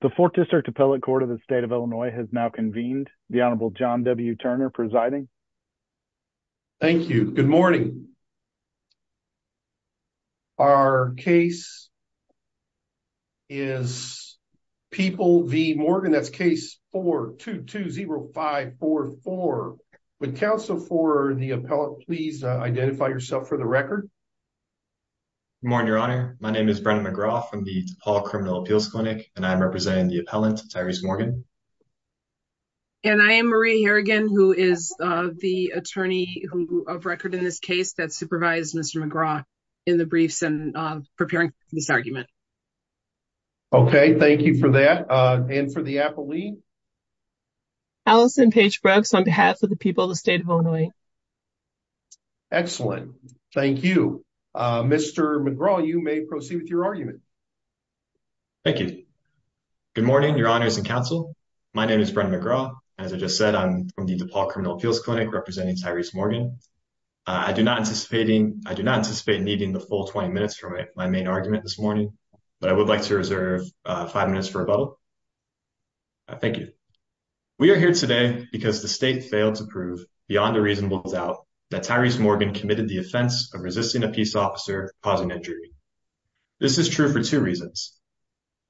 The Fourth District Appellate Court of the State of Illinois has now convened. The Honorable John W. Turner presiding. Thank you. Good morning. Our case is People v. Morgan. That's case 4-2-2-0-5-4-4. Would counsel for the appellate please identify yourself for the record? Good morning, Your Honor. My name is Brennan McGraw from the DePaul Criminal Appeals Clinic, and I'm representing the appellant, Tyrese Morgan. And I am Maria Harrigan, who is the attorney of record in this case that supervised Mr. McGraw in the briefs and preparing for this argument. Okay, thank you for that. And for the appellee? Allison Page Brooks on behalf of the people of the State of Illinois. Excellent. Thank you. Mr. McGraw, you may proceed with your argument. Thank you. Good morning, Your Honors and counsel. My name is Brennan McGraw. As I just said, I'm from the DePaul Criminal Appeals Clinic representing Tyrese Morgan. I do not anticipate needing the full 20 minutes for my main argument this morning, but I would like to reserve five minutes for rebuttal. Thank you. We are here today because the state failed to prove beyond a reasonable doubt that Tyrese was a police officer causing injury. This is true for two reasons.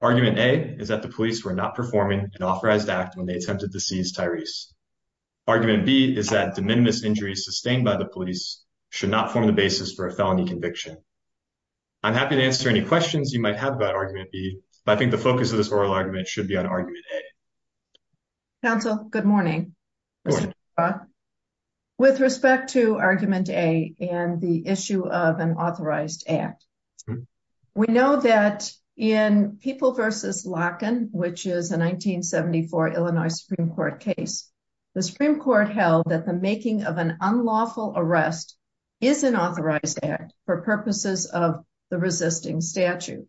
Argument A is that the police were not performing an authorized act when they attempted to seize Tyrese. Argument B is that de minimis injuries sustained by the police should not form the basis for a felony conviction. I'm happy to answer any questions you might have about Argument B, but I think the focus of this oral argument should be on Argument A. Counsel, good morning. Good morning, Mr. McGraw. With respect to Argument A and the issue of an authorized act, we know that in People v. Larkin, which is a 1974 Illinois Supreme Court case, the Supreme Court held that the making of an unlawful arrest is an authorized act for purposes of the resisting statute.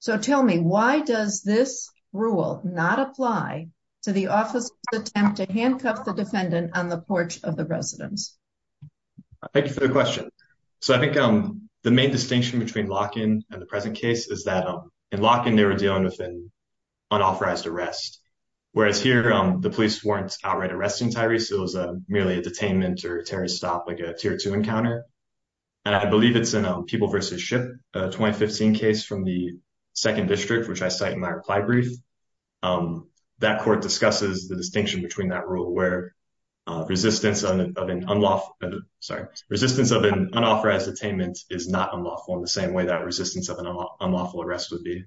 So tell me, why does this rule not apply to the officer's attempt to handcuff the defendant on the porch of the residence? Thank you for the question. So I think the main distinction between Larkin and the present case is that in Larkin, they were dealing with an unauthorized arrest, whereas here, the police weren't outright arresting Tyrese. It was merely a detainment or a terrorist stop, like a tier two encounter, and I believe it's in a People v. Shipp, a 2015 case from the 2nd District, which I cite in my reply brief. That court discusses the distinction between that rule where resistance of an unauthorized detainment is not unlawful in the same way that resistance of an unlawful arrest would be.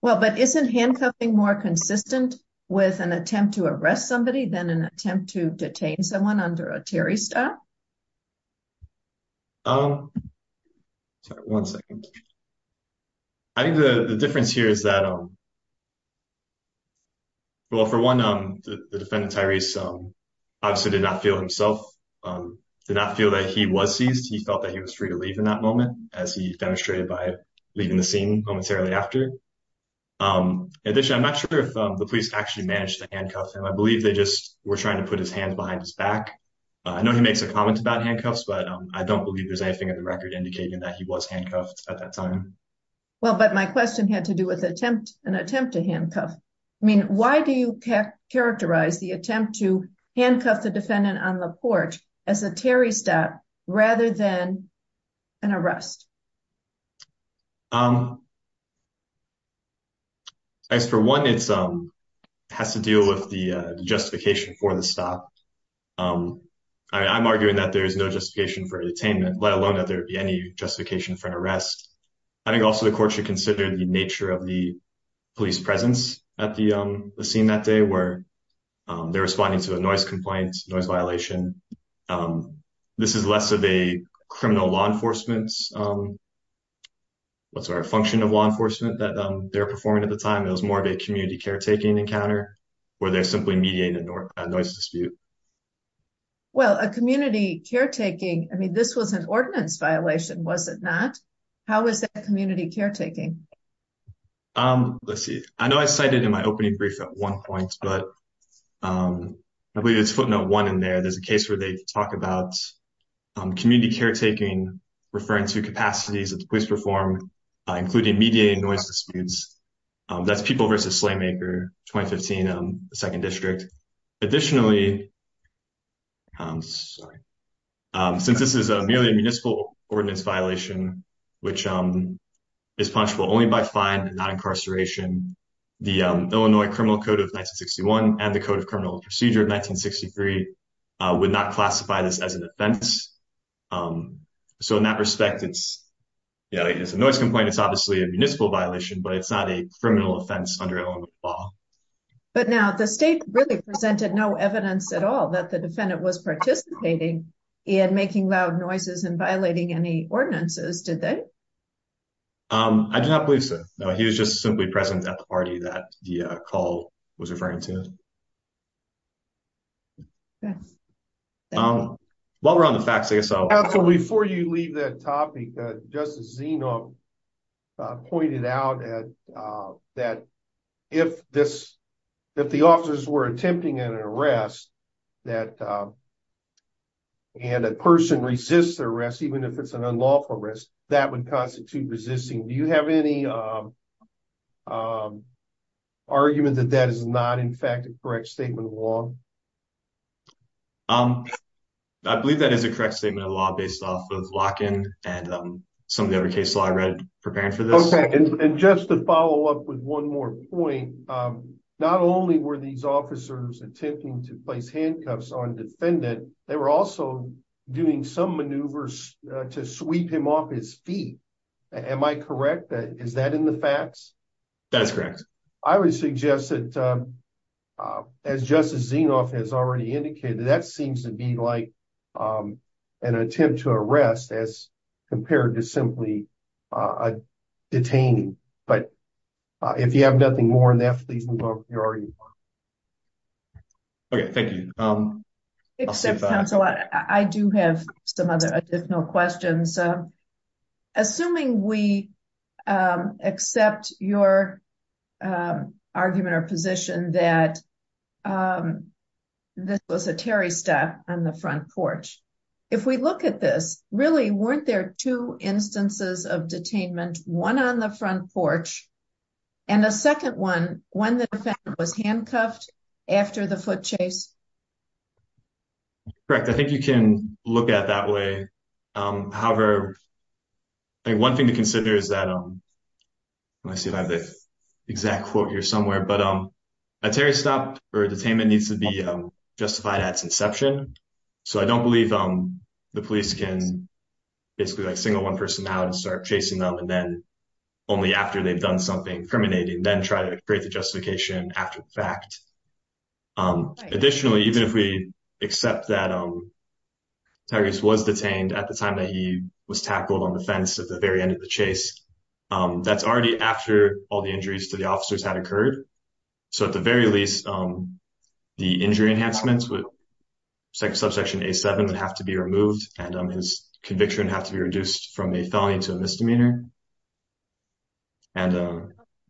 Well, but isn't handcuffing more consistent with an attempt to arrest somebody than an attempt to detain someone under a terrorist stop? Sorry, one second. I think the difference here is that, well, for one, the defendant, Tyrese, obviously did not feel himself, did not feel that he was seized. He felt that he was free to leave in that moment, as he demonstrated by leaving the scene momentarily after. In addition, I'm not sure if the police actually managed to handcuff him. I believe they just were trying to put his hands behind his back. I know he makes a comment about handcuffs, but I don't believe there's anything in the record indicating that he was handcuffed at that time. Well, but my question had to do with an attempt to handcuff. I mean, why do you characterize the attempt to handcuff the defendant on the porch as a terrorist stop rather than an arrest? As for one, it has to deal with the justification for the stop. I'm arguing that there is no justification for detainment, let alone that there be any justification for an arrest. I think also the court should consider the nature of the police presence at the scene that day where they're responding to a noise complaint, noise violation. This is less of a criminal law enforcement, what's our function of law enforcement that they're performing at the time. It was more of a community caretaking encounter where they're simply mediating a noise dispute. Well, a community caretaking, I mean, this was an ordinance violation, was it not? How is that community caretaking? Let's see. I know I cited in my opening brief at one point, but I believe it's footnote one in there. There's a case where they talk about community caretaking, referring to capacities that the police perform, including mediating noise disputes. That's People v. Slaymaker, 2015, the 2nd District. Additionally, since this is merely a municipal ordinance violation, which is punishable only by fine and not incarceration, the Illinois Criminal Code of 1961 and the Code of Criminal Procedure of 1963 would not classify this as an offense. So in that respect, it's a noise complaint, it's obviously a municipal violation, but it's not a criminal offense under Illinois law. But now the state really presented no evidence at all that the defendant was participating in making loud noises and violating any ordinances, did they? I do not believe so. No, he was just simply present at the party that the call was referring to. Yes. While we're on the facts, I guess I'll- Counsel, before you leave that topic, Justice Zeno pointed out that if the officers were attempting an arrest and a person resists the arrest, even if it's an unlawful arrest, that would constitute resisting. Do you have any argument that that is not, in fact, a correct statement of law? I believe that is a correct statement of law based off of lock-in and some of the other case law I read preparing for this. And just to follow up with one more point, not only were these officers attempting to place handcuffs on a defendant, they were also doing some maneuvers to sweep him off his feet. Am I correct? Is that in the facts? That's correct. I would suggest that, as Justice Zeno has already indicated, that seems to be like an attempt to arrest as compared to simply detaining. But if you have nothing more on that, please move on from your argument. Okay, thank you. I'll sit back. I have two questions. Assuming we accept your argument or position that this was a Terry step on the front porch, if we look at this, really, weren't there two instances of detainment? One on the front porch and a second one when the defendant was handcuffed after the foot chase? Correct. I think you can look at it that way. However, one thing to consider is that—let me see if I have the exact quote here somewhere—a Terry stop or detainment needs to be justified at its inception. So I don't believe the police can basically single one person out and start chasing them and then, only after they've done something incriminating, then try to create the justification after the fact. Additionally, even if we accept that Tigress was detained at the time that he was tackled on the fence at the very end of the chase, that's already after all the injuries to the officers had occurred. So at the very least, the injury enhancements with subsection A7 would have to be removed and his conviction would have to be reduced from a felony to a misdemeanor.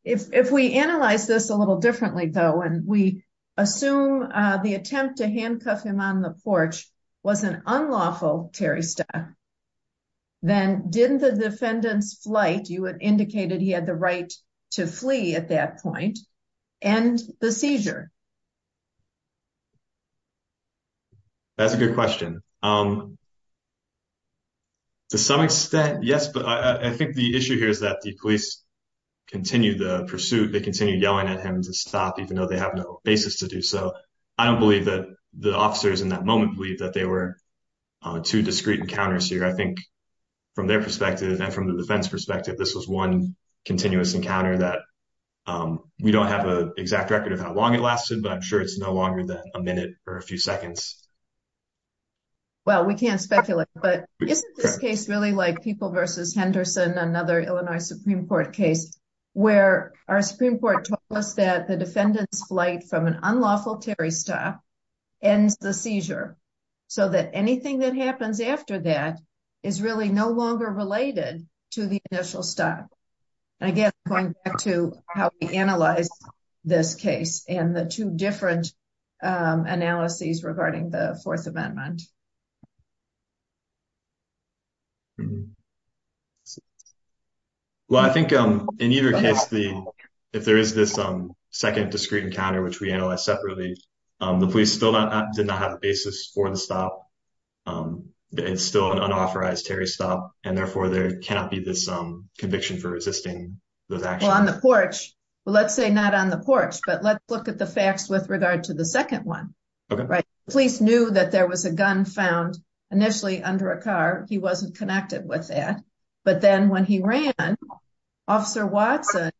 If we analyze this a little differently, though, and we assume the attempt to handcuff him on the porch was an unlawful Terry stop, then didn't the defendant's flight—you had indicated he had the right to flee at that point—end the seizure? That's a good question. To some extent, yes, but I think the issue here is that the police continue the pursuit. They continue yelling at him to stop, even though they have no basis to do so. I don't believe that the officers in that moment believe that they were two discrete encounters here. I think from their perspective and from the defense perspective, this was one continuous encounter that we don't have an exact record of how long it lasted, but I'm sure it's no longer than a minute or a few seconds. Well, we can't speculate, but isn't this case really like People v. Henderson, another Illinois Supreme Court case, where our Supreme Court told us that the defendant's flight from an unlawful Terry stop ends the seizure, so that anything that happens after that is really no longer related to the initial stop? Again, going back to how we analyze this case and the two different analyses regarding the Fourth Amendment. Well, I think in either case, if there is this second discrete encounter, which we analyzed separately, the police still did not have a basis for the stop. It's still an unauthorized Terry stop, and therefore there cannot be this conviction for resisting those actions. Well, on the porch. Well, let's say not on the porch, but let's look at the facts with regard to the second one. Okay. The police knew that there was a gun found initially under a car. He wasn't connected with that. But then when he ran, Officer Watson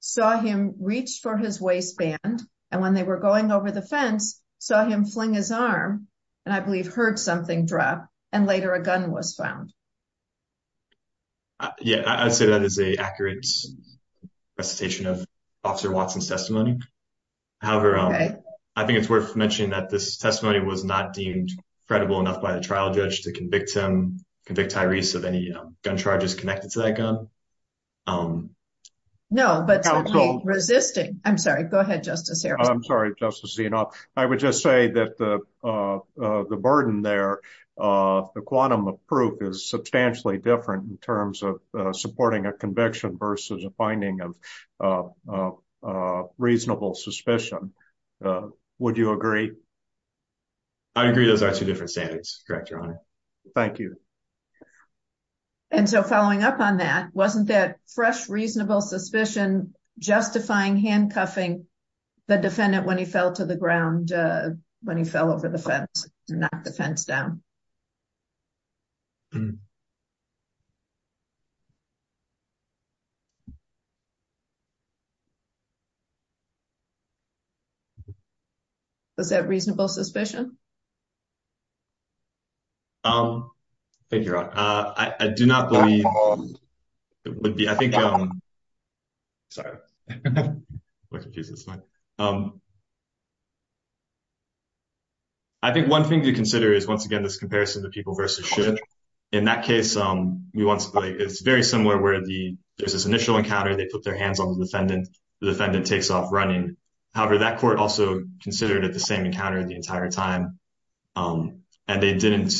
saw him reach for his waistband, and when they were going over the fence, saw him fling his arm, and I believe heard something drop, and later a gun was found. Yeah, I'd say that is an accurate presentation of Officer Watson's testimony. However, I think it's worth mentioning that this testimony was not deemed credible enough by the trial judge to convict him, convict Tyrese of any gun charges connected to that gun. No, but resisting. I'm sorry. Go ahead, Justice Harris. I'm sorry. I'm sorry, Justice Zinoff. I would just say that the burden there, the quantum of proof is substantially different in terms of supporting a conviction versus a finding of reasonable suspicion. Would you agree? I agree those are two different standards, Director Hunter. Thank you. And so following up on that, wasn't that fresh, reasonable suspicion justifying handcuffing the defendant when he fell to the ground, when he fell over the fence, and knocked the fence down? Was that reasonable suspicion? Thank you, Your Honor. I do not believe it would be. I think... Sorry. I think one thing to consider is, once again, this comparison of the people versus ship. In that case, it's very similar where there's this initial encounter, they put their hands on the defendant, the defendant takes off running. However, that court also considered it the same encounter the entire time, and they didn't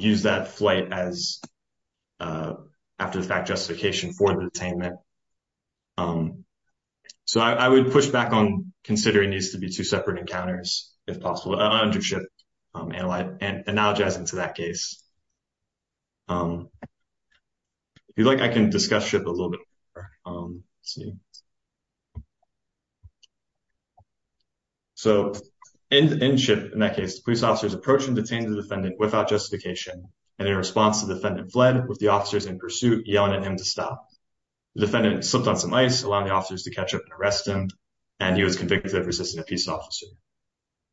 use that flight as after-the-fact justification for the detainment. So I would push back on considering these to be two separate encounters, if possible, under ship, analogizing to that case. If you'd like, I can discuss ship a little bit more, let's see. So, in ship, in that case, the police officers approached and detained the defendant without justification. And in response, the defendant fled with the officers in pursuit, yelling at him to stop. The defendant slipped on some ice, allowing the officers to catch up and arrest him. And he was convicted of resisting a peace officer.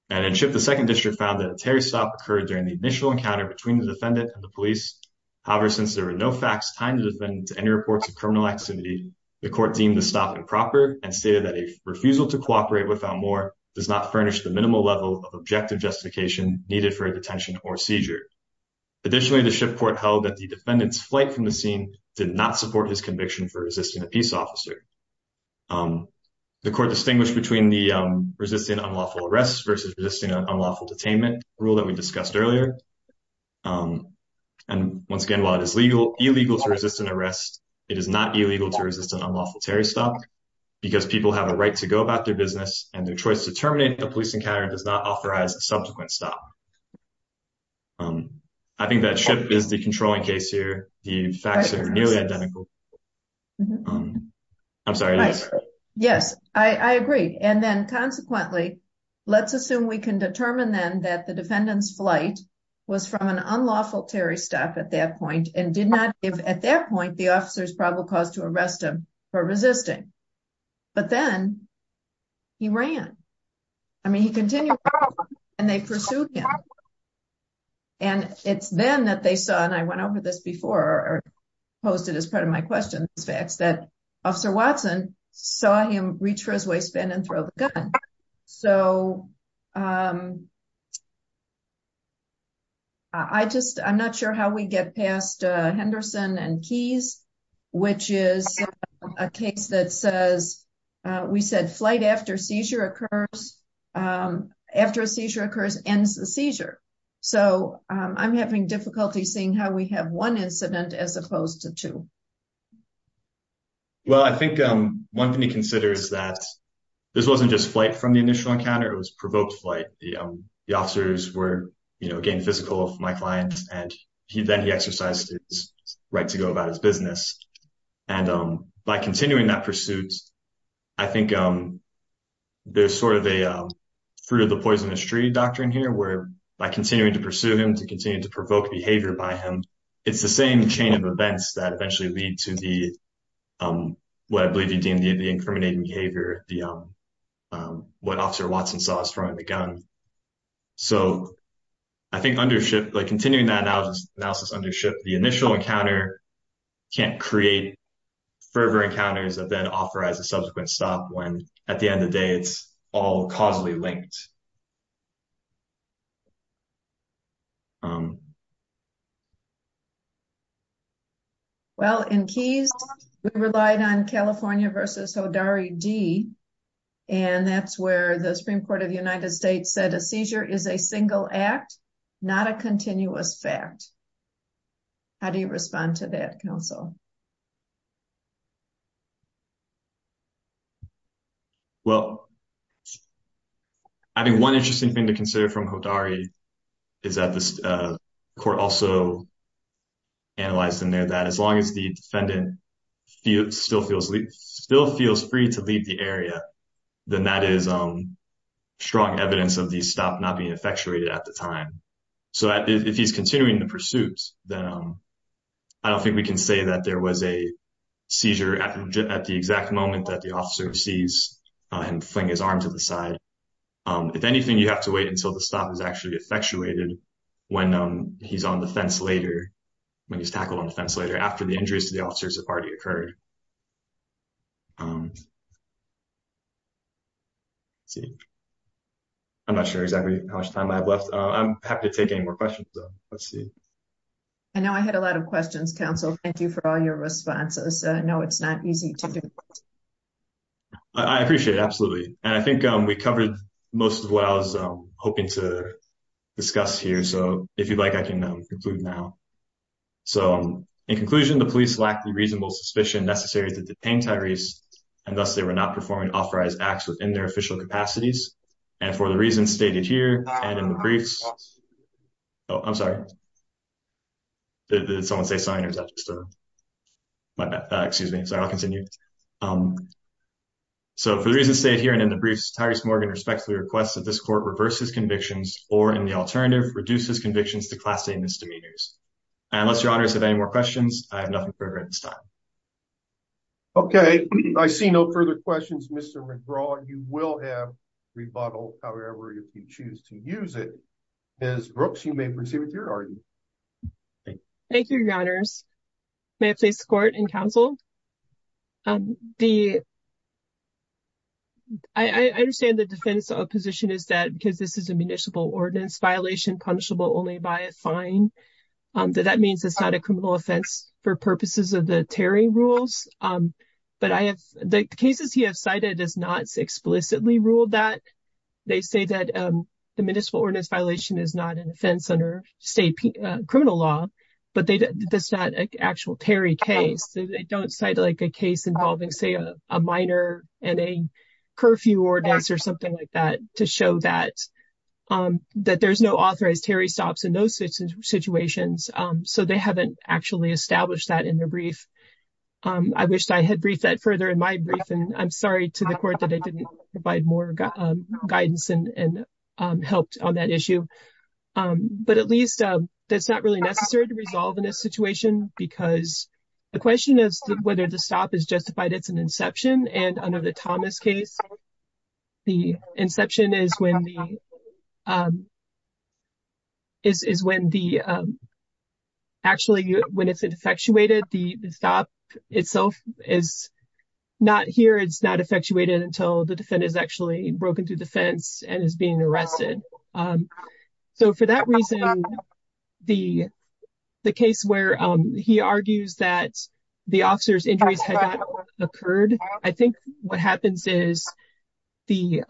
And in ship, the second district found that a Terry stop occurred during the initial encounter between the defendant and the police. However, since there were no facts tying the defendant to any reports of criminal activity, the court deemed the stop improper and stated that a refusal to cooperate without more does not furnish the minimal level of objective justification needed for a detention or seizure. Additionally, the ship court held that the defendant's flight from the scene did not support his conviction for resisting a peace officer. The court distinguished between the resisting unlawful arrest versus resisting an unlawful detainment rule that we discussed earlier. And once again, while it is legal, illegal to resist an arrest, it is not illegal to resist an unlawful Terry stop because people have a right to go about their business and their choice to terminate the police encounter does not authorize a subsequent stop. I think that ship is the controlling case here. The facts are nearly identical. I'm sorry, yes, I agree. And then consequently, let's assume we can determine then that the defendant's flight was from an unlawful Terry stop at that point and did not give, at that point, the officer's probable cause to arrest him for resisting. But then he ran. I mean, he continued and they pursued him. And it's then that they saw, and I went over this before or posted as part of my questions facts that officer Watson saw him reach for his waistband and throw the gun. So I just I'm not sure how we get past Henderson and keys, which is a case that says we said flight after seizure occurs after a seizure occurs, ends the seizure. So I'm having difficulty seeing how we have one incident as opposed to two. Well, I think one thing to consider is that this wasn't just flight from the initial encounter, it was provoked flight. The officers were, you know, again, physical of my clients. And he then he exercised his right to go about his business. And by continuing that pursuits, I think there's sort of a fruit of the poisonous tree doctrine here, where by continuing to pursue him, to continue to provoke behavior by him, it's the same chain of events that eventually lead to the what I believe you deem the incriminating behavior, the what officer Watson saw throwing the gun. So I think undershift, like continuing that analysis, analysis, undershift, the initial encounter can't create further encounters that then authorize a subsequent stop when at the end of the day, it's all causally linked. Well, in keys, we relied on California versus Hodari D. And that's where the Supreme Court of the United States said a seizure is a single act, not a continuous fact. How do you respond to that counsel? Well, I think one interesting thing to consider from Hodari is that the court also analyzed in there that as long as the defendant still feels free to leave the area, then that is strong evidence of the stop not being effectuated at the time. So if he's continuing the pursuits, then I don't think we can say that that's the was a seizure at the exact moment that the officer sees him fling his arm to the side. If anything, you have to wait until the stop is actually effectuated when he's on the fence later, when he's tackled on the fence later after the injuries to the officers have already occurred. I'm not sure exactly how much time I have left. I'm happy to take any more questions though. Let's see. I know I had a lot of questions, counsel. Thank you for all your responses. No, it's not easy. I appreciate it. Absolutely. And I think we covered most of what I was hoping to discuss here. So if you'd like, I can conclude now. So in conclusion, the police lack the reasonable suspicion necessary to detain Tyrese and thus they were not performing authorized acts within their official capacities. And for the reasons stated here and in the briefs, oh, I'm sorry. Did someone say sign or is that just a excuse me? Sorry, I'll continue. So for the reasons stated here and in the briefs, Tyrese Morgan respectfully requests that this court reverses convictions or in the alternative reduces convictions to class A misdemeanors. Unless your honors have any more questions, I have nothing further at this time. Okay, I see no further questions, Mr. McGraw. You will have rebuttal, however, if you choose to use it. Ms. Brooks, you may proceed with your argument. Thank you, your honors. May it please the court and counsel. I understand the defense opposition is that because this is a municipal ordinance violation punishable only by a fine. That means it's not a criminal offense for purposes of the Terry rules. But I have the cases he has cited is not explicitly ruled that they say that the municipal ordinance violation is not an offense under state criminal law. But this is not an actual Terry case. They don't cite like a case involving, say, a minor and a curfew ordinance or something like that to show that there's no authorized Terry stops in those situations. So they haven't actually established that in the brief. I wish I had briefed that further in my brief, and I'm sorry to the court that I didn't provide more guidance and helped on that issue. But at least that's not really necessary to resolve in this situation. Because the question is whether the stop is justified. It's an inception. And under the Thomas case, the inception is when the is when the actually when it's the stop itself is not here. It's not effectuated until the defendant is actually broken through the fence and is being arrested. So for that reason, the case where he argues that the officer's injuries had occurred, I think what happens is the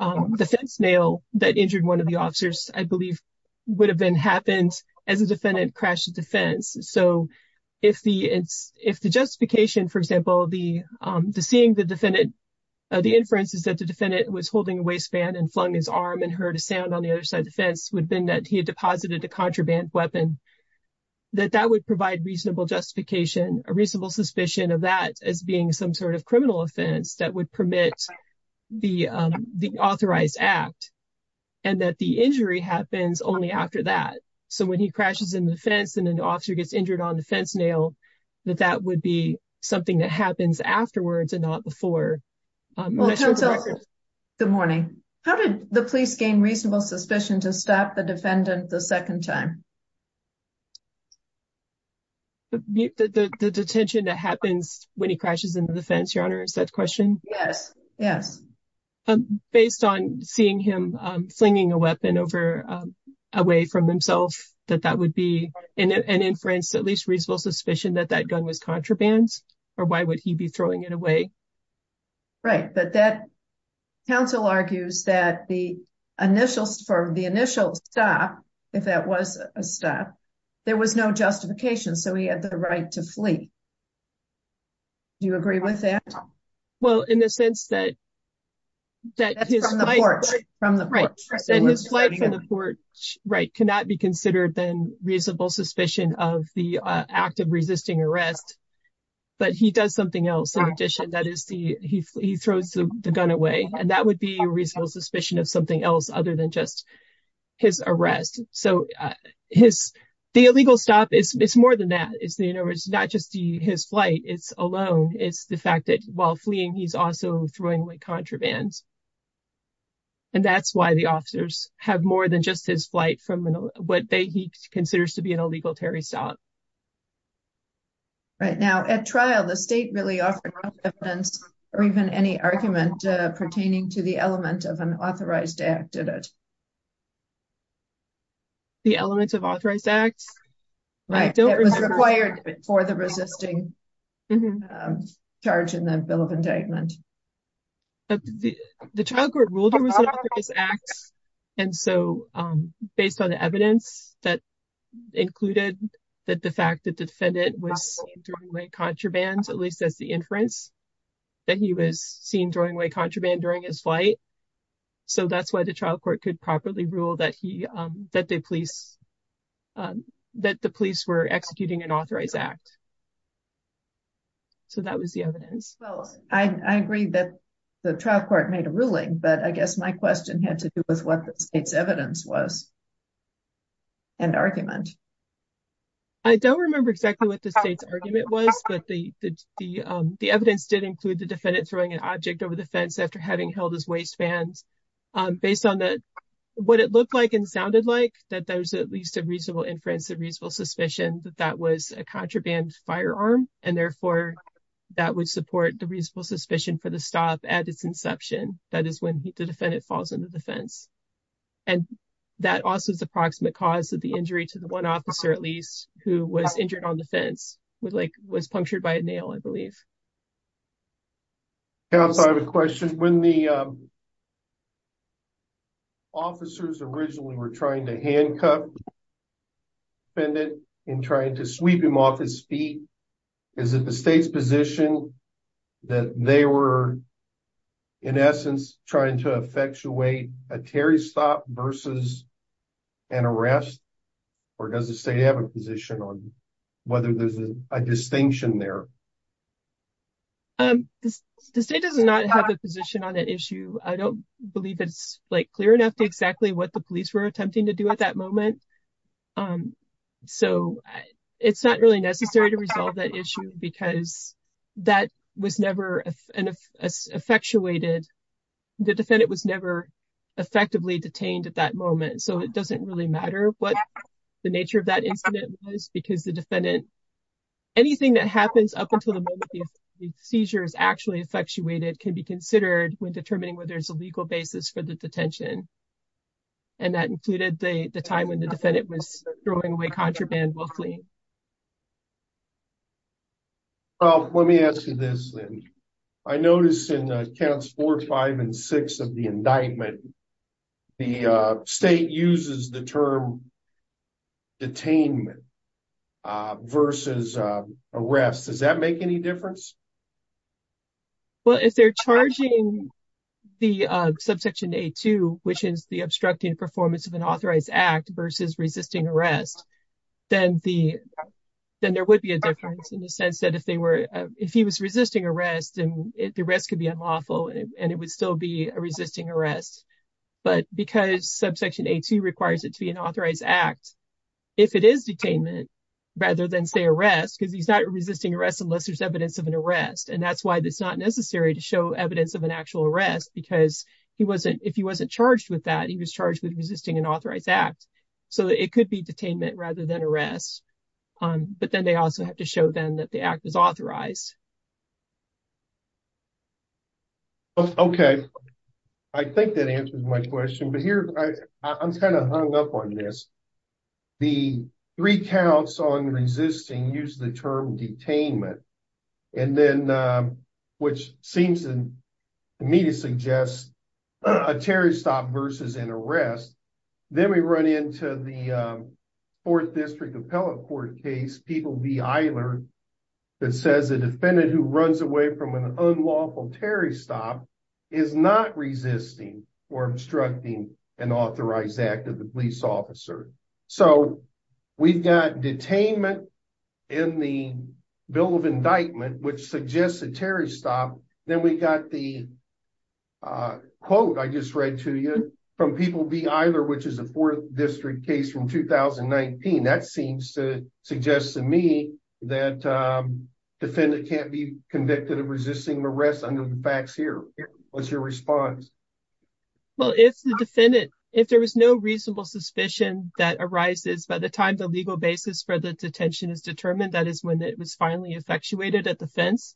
fence nail that injured one of the officers, I believe, would have been happened as a defendant crashed the fence. So if the justification, for example, the seeing the defendant, the inferences that the defendant was holding a waistband and flung his arm and heard a sound on the other side of the fence would have been that he had deposited a contraband weapon, that that would provide reasonable justification, a reasonable suspicion of that as being some sort of criminal offense that would permit the authorized act and that the injury happens only after that. So when he crashes in the fence and an officer gets injured on the fence nail, that that would be something that happens afterwards and not before. Good morning. How did the police gain reasonable suspicion to stop the defendant the second time? The detention that happens when he crashes into the fence, your honor, is that question? Yes, yes. Based on seeing him flinging a weapon away from himself, that that would be an inference, at least reasonable suspicion that that gun was contraband or why would he be throwing it away? Right. But that counsel argues that for the initial stop, if that was a stop, there was no justification. So he had the right to flee. Do you agree with that? Well, in the sense that. Right. Cannot be considered then reasonable suspicion of the act of resisting arrest. But he does something else. In addition, that is, he throws the gun away and that would be a reasonable suspicion of something else other than just his arrest. So his the illegal stop is more than that. Not just his flight. It's alone. It's the fact that while fleeing, he's also throwing like contraband. And that's why the officers have more than just his flight from what he considers to be an illegal Terry stop. Right now, at trial, the state really offered no evidence or even any argument pertaining to the element of an authorized act at it. The elements of authorized acts. Right. It was required for the resisting. Charge in the bill of indictment. The child court ruled his acts. And so based on the evidence that included that, the fact that the defendant was during my contraband, at least as the inference. That he was seen during my contraband during his flight. So that's why the trial court could properly rule that he that the police. That the police were executing an authorized act. So that was the evidence. I agree that the trial court made a ruling, but I guess my question had to do with what the state's evidence was. And argument. I don't remember exactly what the state's argument was, but the, the, the, the evidence did include the defendant throwing an object over the fence after having held his waist bands based on that. What it looked like and sounded like that there's at least a reasonable inference of reasonable suspicion that that was a contraband firearm. And therefore, that would support the reasonable suspicion for the stop at its inception. That is when the defendant falls into the fence. And that also is approximate cause of the injury to the one officer, at least who was injured on the fence with, like, was punctured by a nail, I believe. I have a question. When the officers originally were trying to handcuff defendant and trying to sweep him off his feet, is it the state's position that they were in essence trying to effectuate a Terry stop versus an arrest? Or does the state have a position on whether there's a distinction there? The state does not have a position on that issue. I don't believe it's like clear enough to exactly what the police were attempting to do at that moment. So it's not really necessary to resolve that issue because that was never an effectuated. The defendant was never effectively detained at that moment. So it doesn't really matter what the nature of that incident is because the defendant, anything that happens up until the moment the seizure is actually effectuated can be considered when determining whether there's a legal basis for the detention. And that included the time when the defendant was throwing away contraband willfully. Well, let me ask you this. I noticed in accounts four, five, and six of the indictment, the state uses the term detainment versus arrest. Does that make any difference? Well, if they're charging the subsection a two, which is the obstructing performance of an authorized act versus resisting arrest, then there would be a difference in the sense that if he was resisting arrest and the rest could be unlawful and it would still be a resisting arrest. But because subsection a two requires it to be an authorized act, if it is detainment rather than say arrest, cause he's not resisting arrest unless there's evidence of an arrest. And that's why it's not necessary to show evidence of an actual arrest because he wasn't, if he wasn't charged with that, he was charged with resisting an authorized act. So it could be detainment rather than arrest. But then they also have to show them that the act was authorized. Okay. I think that answers my question, but here I'm kind of hung up on this. The three counts on resisting use the term detainment and then, um, which seems to me to suggest a terrorist stop versus an arrest. Then we run into the, um, fourth district appellate court case. People be either that says a defendant who runs away from an unlawful Terry stop is not resisting or obstructing an authorized act of the police officer. So we've got detainment in the bill of indictment, which suggests a Terry stop. Then we got the, uh, quote I just read to you from people be either, which is a fourth district case from 2019. That seems to suggest to me that, um, defendant can't be convicted of resisting arrest under the facts here. What's your response? Well, if the defendant, if there was no reasonable suspicion that arises by the time the legal basis for the detention is determined, that is when it was finally effectuated at the fence.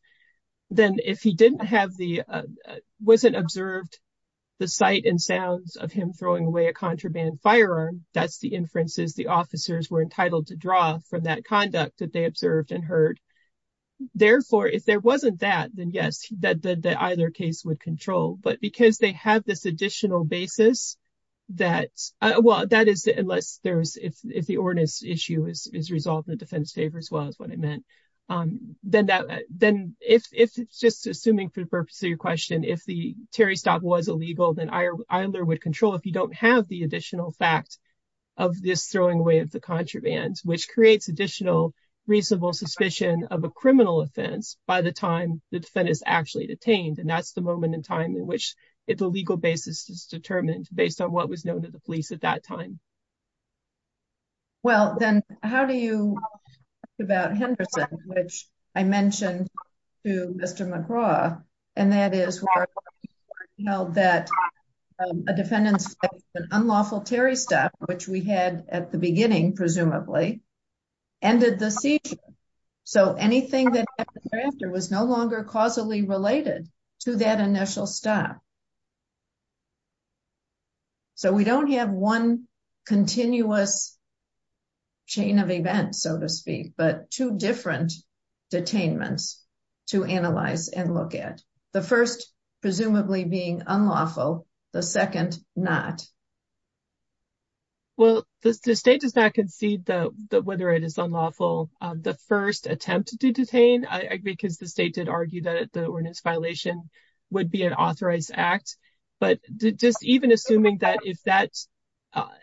Then if he didn't have the, uh, wasn't observed the sight and sounds of him throwing away a contraband firearm. That's the inferences. The officers were entitled to draw from that conduct that they observed and heard. Therefore, if there wasn't that, then yes, that either case would control, but because they have this additional basis that, uh, well, that is unless there's, if, if the ordinance issue is, is resolved in the defense favor as well as what it meant. Um, then that, then if, if it's just assuming for the purpose of your question, if the Terry Stock was illegal, then either would control if you don't have the additional fact of this throwing away of the contraband, which creates additional reasonable suspicion of a criminal offense by the time the defendant is actually detained. And that's the moment in time in which it's a legal basis is determined based on what was known to the police at that time. Well, then how do you about Henderson, which I mentioned to Mr. McGraw and that is that a defendant's unlawful Terry stuff, which we had at the beginning, presumably ended the seizure. So anything that was no longer causally related to that initial stop. So we don't have one continuous chain of events, so to speak, but two different detainments to analyze and look at. The first presumably being unlawful. The second not. Well, the state does not concede that whether it is unlawful, the first attempt to detain because the state did argue that the ordinance violation would be an authorized act. But just even assuming that if that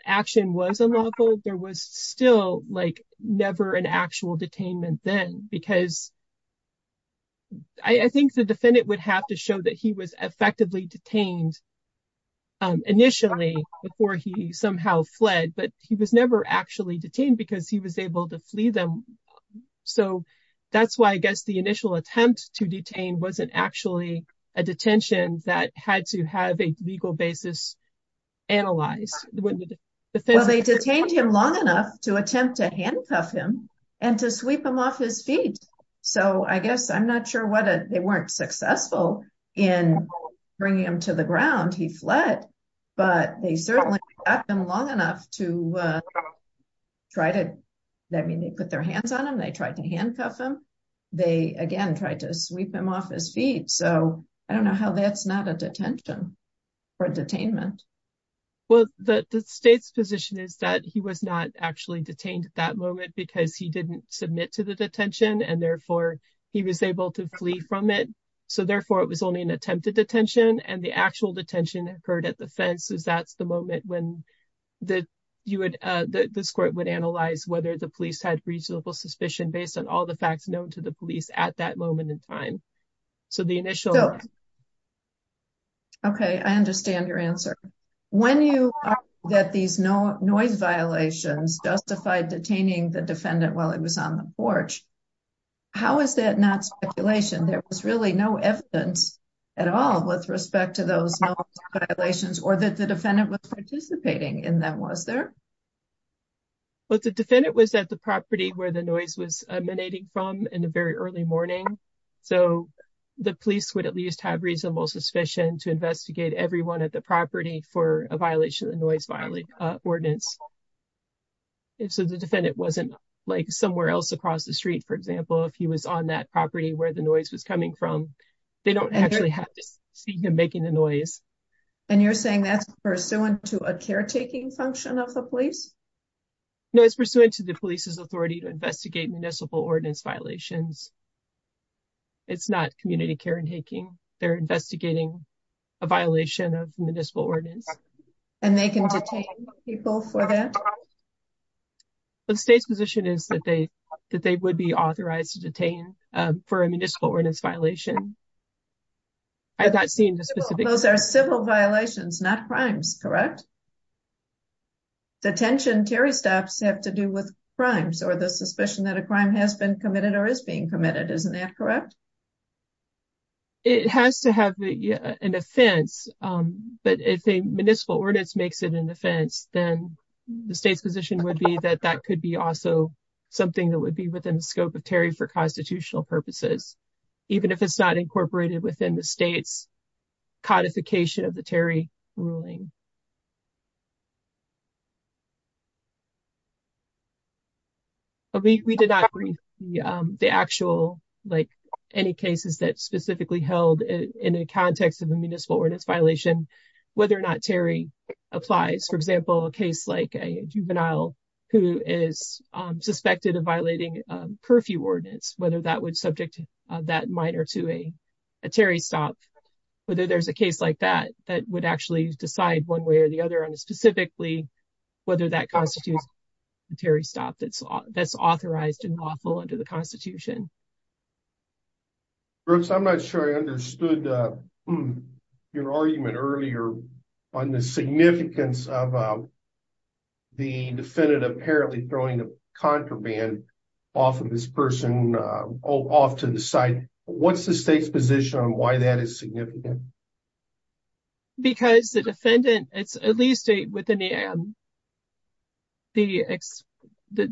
action was unlawful, there was still like never an he was effectively detained. Initially, before he somehow fled, but he was never actually detained because he was able to flee them. So that's why I guess the initial attempt to detain wasn't actually a detention that had to have a legal basis. Analyze when they detained him long enough to attempt to handcuff him and to sweep him off his feet. So I guess I'm not sure what they weren't successful in bringing him to the ground. He fled, but they certainly have been long enough to try to let me put their hands on him. They tried to handcuff him. They again tried to sweep him off his feet. So I don't know how that's not a detention or detainment. Well, the state's position is that he was not actually detained at that moment because he didn't submit to the detention and therefore he was able to flee from it. So therefore, it was only an attempt to detention and the actual detention occurred at the fences. That's the moment when the court would analyze whether the police had reasonable suspicion based on all the facts known to the police at that moment in time. So the initial. Okay, I understand your answer. When you are that these no noise violations justified detaining the defendant while he was on the porch. How is that not speculation? There was really no evidence at all with respect to those violations or that the defendant was participating in that was there. But the defendant was at the property where the noise was emanating from in the very early morning. So the police would at least have reasonable suspicion to investigate everyone at the property for a violation of the noise ordinance. So the defendant wasn't like somewhere else across the street. For example, if he was on that property where the noise was coming from, they don't actually have to see him making the noise. And you're saying that's pursuant to a caretaking function of the police? No, it's pursuant to the police's authority to investigate municipal ordinance violations. It's not community caretaking. They're investigating a violation of municipal ordinance. And they can detain people for that? The state's position is that they would be authorized to detain for a municipal ordinance violation. I have not seen the specific. Those are civil violations, not crimes, correct? Detention, Terry stops have to do with crimes or the suspicion that a crime has been committed or is being committed. Isn't that correct? It has to have an offense. But if a municipal ordinance makes it an offense, then the state's position would be that that could be also something that would be within the scope of Terry for constitutional purposes, even if it's not incorporated within the state's codification of the Terry ruling. We did not read the actual, like, any cases that specifically held in the context of a municipal ordinance violation, whether or not Terry applies. For example, a case like a juvenile who is suspected of violating curfew ordinance, whether that would subject that minor to a Terry stop, whether there's a case like that, that would actually decide one way or the other on specifically whether that constitutes a Terry stop that's that's authorized and lawful under the constitution. Brooks, I'm not sure I understood your argument earlier on the significance of the defendant apparently throwing a contraband off of this person off to the side. What's the state's position on why that is significant? Because the defendant, it's at least within the. The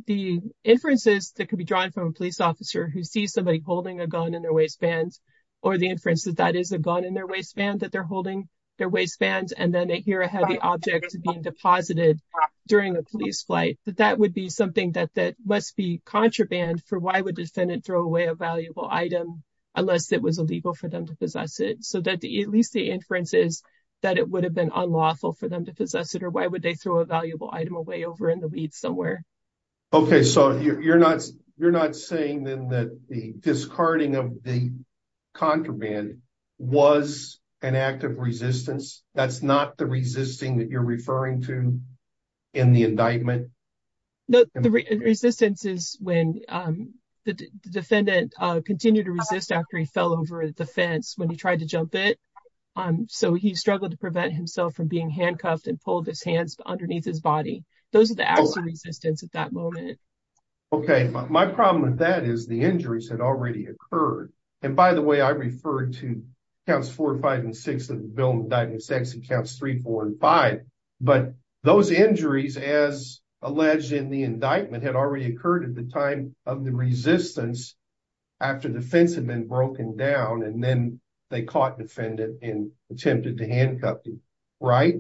the inferences that could be drawn from a police officer who sees somebody holding a gun in their waistbands or the inferences that is a gun in their waistband that they're holding their waistbands, and then they hear a heavy object being deposited during a police flight, that that would be something that that must be contraband for. Why would defendant throw away a valuable item unless it was illegal for them to possess it? At least the inferences that it would have been unlawful for them to possess it, or why would they throw a valuable item away over in the weeds somewhere? OK, so you're not you're not saying then that the discarding of the contraband was an act of resistance. That's not the resisting that you're referring to in the indictment. No, the resistance is when the defendant continued to resist after he fell over the fence when he tried to jump it. So he struggled to prevent himself from being handcuffed and pulled his hands underneath his body. Those are the acts of resistance at that moment. OK, my problem with that is the injuries had already occurred. And by the way, I referred to counts four, five, and six of the Bill of Indictments X and counts three, four, and five. But those injuries, as alleged in the indictment, had already occurred at the time of the resistance after defense had been broken down and then they caught defendant and attempted to handcuff him, right?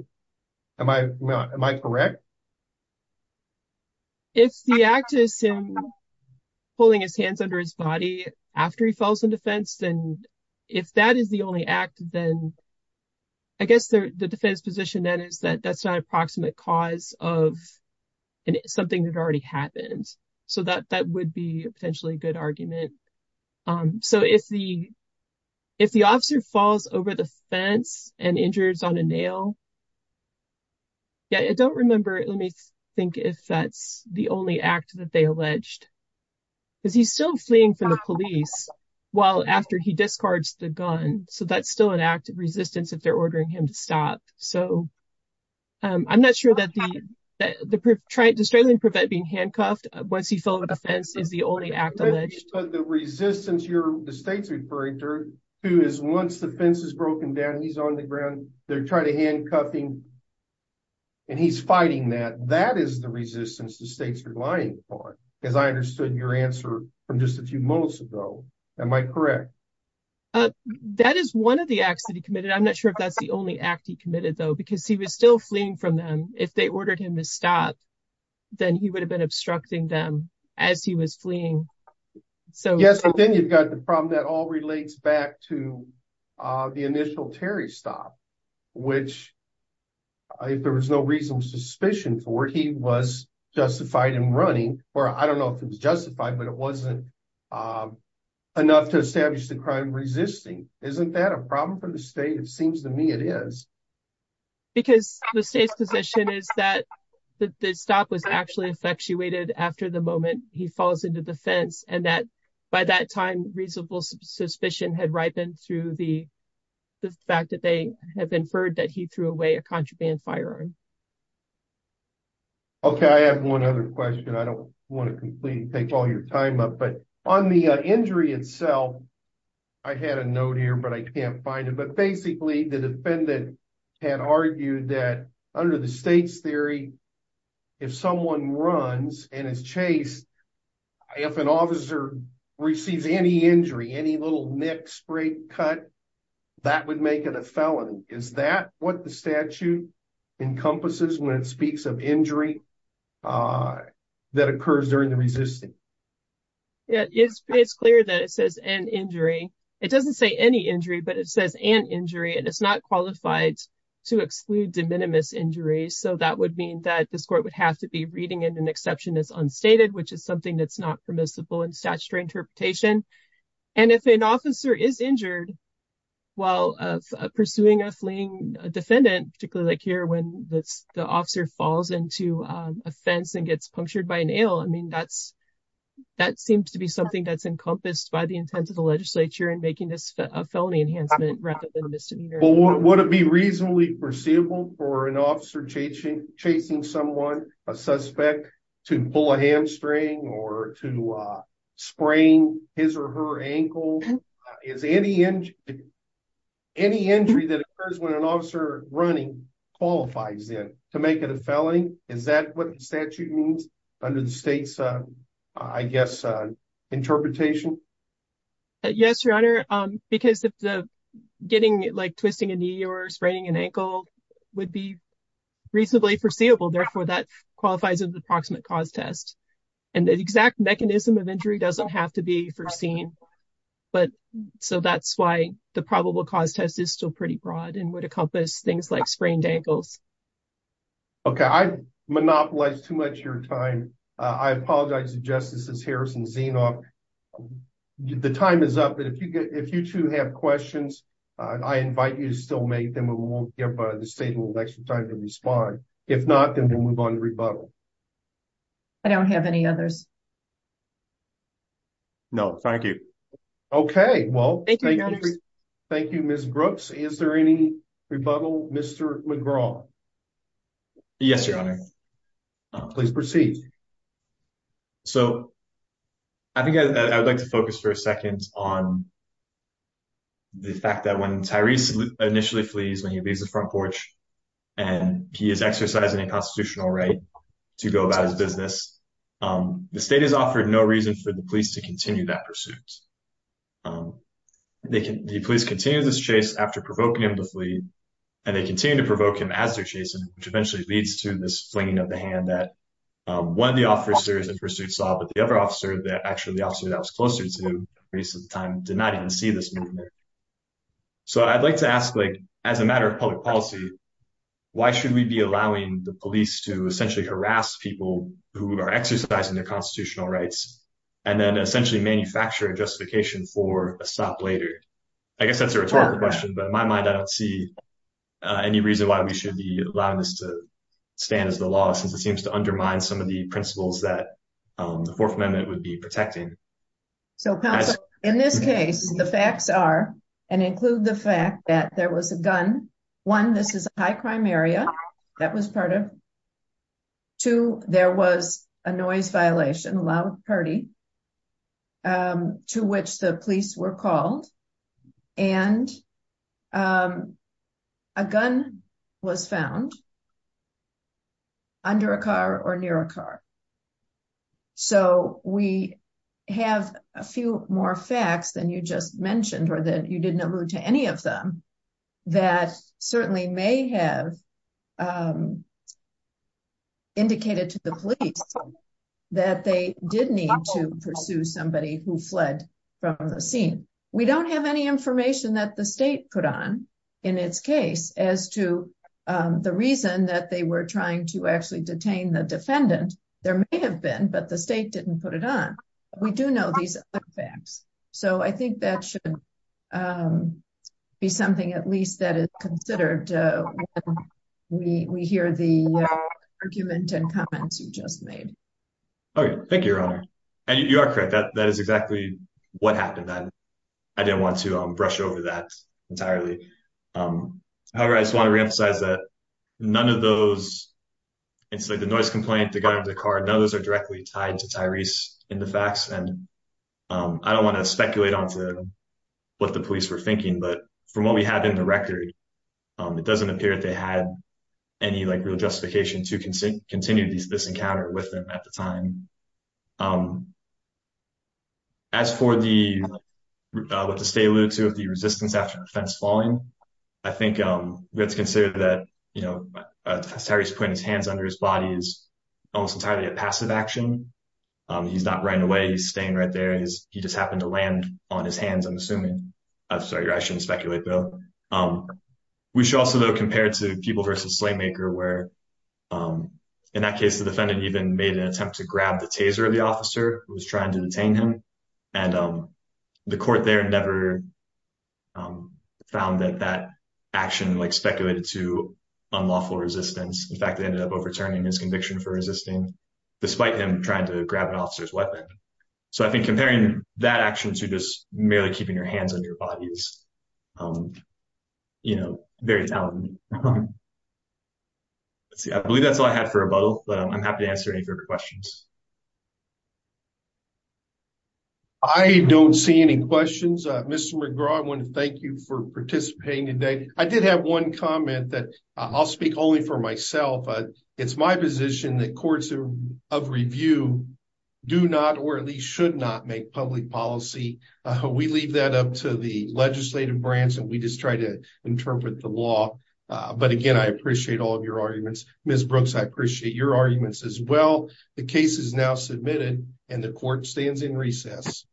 Am I correct? If the act is him pulling his hands under his body after he falls in defense, then if that is the only act, then I guess the defense position then is that that's not of something that already happened. So that would be a potentially good argument. So if the officer falls over the fence and injures on a nail, yeah, I don't remember. Let me think if that's the only act that they alleged. Is he still fleeing from the police while after he discards the gun? So that's still an act of I'm not sure that the Australian prevent being handcuffed once he fell over the fence is the only act alleged. But the resistance you're the state's referring to, who is once the fence is broken down, he's on the ground. They're trying to handcuff him. And he's fighting that. That is the resistance the states are lying for, as I understood your answer from just a few moments ago. Am I correct? That is one of the acts that he committed. I'm not sure if that's the only act committed, though, because he was still fleeing from them. If they ordered him to stop, then he would have been obstructing them as he was fleeing. So yes, then you've got the problem that all relates back to the initial Terry stop, which if there was no reason suspicion for he was justified in running or I don't know if it was justified, but it wasn't enough to establish the crime resisting. Isn't that a problem for the state? It seems to me it is. Because the state's position is that the stop was actually effectuated after the moment he falls into the fence and that by that time, reasonable suspicion had ripened through the fact that they have inferred that he threw away a contraband firearm. Okay, I have one other question. I don't want to completely take all your time up, but on the had argued that under the state's theory, if someone runs and is chased, if an officer receives any injury, any little neck spray cut that would make it a felony. Is that what the statute encompasses when it speaks of injury that occurs during the resisting? Yeah, it's clear that it says an injury. It doesn't say any injury, but it says an injury and it's not qualified to exclude de minimis injuries. So that would mean that this court would have to be reading in an exception that's unstated, which is something that's not permissible in statutory interpretation. And if an officer is injured while pursuing a fleeing defendant, particularly like here, when the officer falls into a fence and gets punctured by an ale, I mean, that seems to be something that's encompassed by the intent of the legislature in making this a felony enhancement. But would it be reasonably perceivable for an officer chasing someone, a suspect, to pull a hamstring or to sprain his or her ankle? Is any injury that occurs when an officer running qualifies it to make it a felony? Is that what the statute means under the state's, I guess, interpretation? Yes, Your Honor, because if the getting like twisting a knee or spraining an ankle would be reasonably foreseeable, therefore that qualifies as an approximate cause test. And the exact mechanism of injury doesn't have to be foreseen. But so that's why the probable cause test is still pretty broad and would encompass things like sprained ankles. Okay. I monopolized too much of your time. I apologize to Justices Harris and Zienoff. The time is up, but if you two have questions, I invite you to still make them and we'll give the state a little extra time to respond. If not, then we'll move on to rebuttal. I don't have any others. No, thank you. Okay. Well, thank you, Ms. Brooks. Is there any rebuttal? Mr. McGraw. Yes, Your Honor. Please proceed. So I think I would like to focus for a second on the fact that when Tyrese initially flees, when he leaves the front porch and he is exercising a constitutional right to go about his business, the state has offered no reason for the police to continue that pursuit. The police continue this chase after provoking him to flee and they continue to provoke him as they're chasing him, which eventually leads to this flinging of the hand that one of the officers in pursuit saw, but the other officer that actually the officer that was closer to Tyrese at the time did not even see this movement. So I'd like to ask, as a matter of public policy, why should we be allowing the police to essentially harass people who are exercising their constitutional rights and then essentially manufacture a justification for a stop later? I guess that's a rhetorical question, but in my mind, I don't see any reason why we should be allowing this to stand as the law, since it seems to undermine some of the principles that the Fourth Amendment would be protecting. So in this case, the facts are and include the fact that there was a gun. One, this is a high crime area that was part of. Two, there was a noise violation, a loud party, to which the police were called and a gun was found under a car or near a car. So we have a few more facts than you just mentioned, or that you didn't allude to any of them, that certainly may have indicated to the police that they did need to pursue somebody who fled from the scene. We don't have any information that the state put on in its case as to the reason that they were trying to actually detain the defendant. There may have been, but the state didn't put it on. We do know these facts. So I think that should be something at least that is considered when we hear the argument and comments you just made. Thank you, Your Honor. You are correct. That is exactly what happened. I didn't want to brush over that entirely. However, I just want to reemphasize that none of those, it's like the noise complaint, the gun under the car, none of those are directly tied to Tyrese in the facts. I don't want to speculate on what the police were thinking, but from what we have in the record, it doesn't appear that they had any real justification to continue this encounter with them at the time. As for what the state alluded to, the resistance after the defense falling, I think we have to consider that Tyrese putting his hands under his body is almost entirely a passive action. He's not running away. He's staying right there. He just happened to land on his hands, I'm assuming. Sorry, I shouldn't speculate, though. We should also, though, compare it to People v. Slaymaker, where, in that case, the defendant even made an attempt to grab the taser of the officer who was trying to detain him. The court there never found that that action speculated to unlawful resistance. In fact, they ended up overturning his conviction for resisting, despite him trying to grab an officer's weapon. I think comparing that action to just merely keeping your hands under your body is very talented. I believe that's all I had for rebuttal, but I'm happy to answer any further questions. I don't see any questions. Mr. McGraw, I want to thank you for participating today. I did have one comment that I'll speak only for myself. It's my position that courts of review do not, or at least should not, make public policy. We leave that up to the legislative branch, and we just try to interpret the law. But again, I appreciate all of your arguments. Ms. Brooks, I appreciate your arguments as well. The case is now submitted, and the court stands in recess.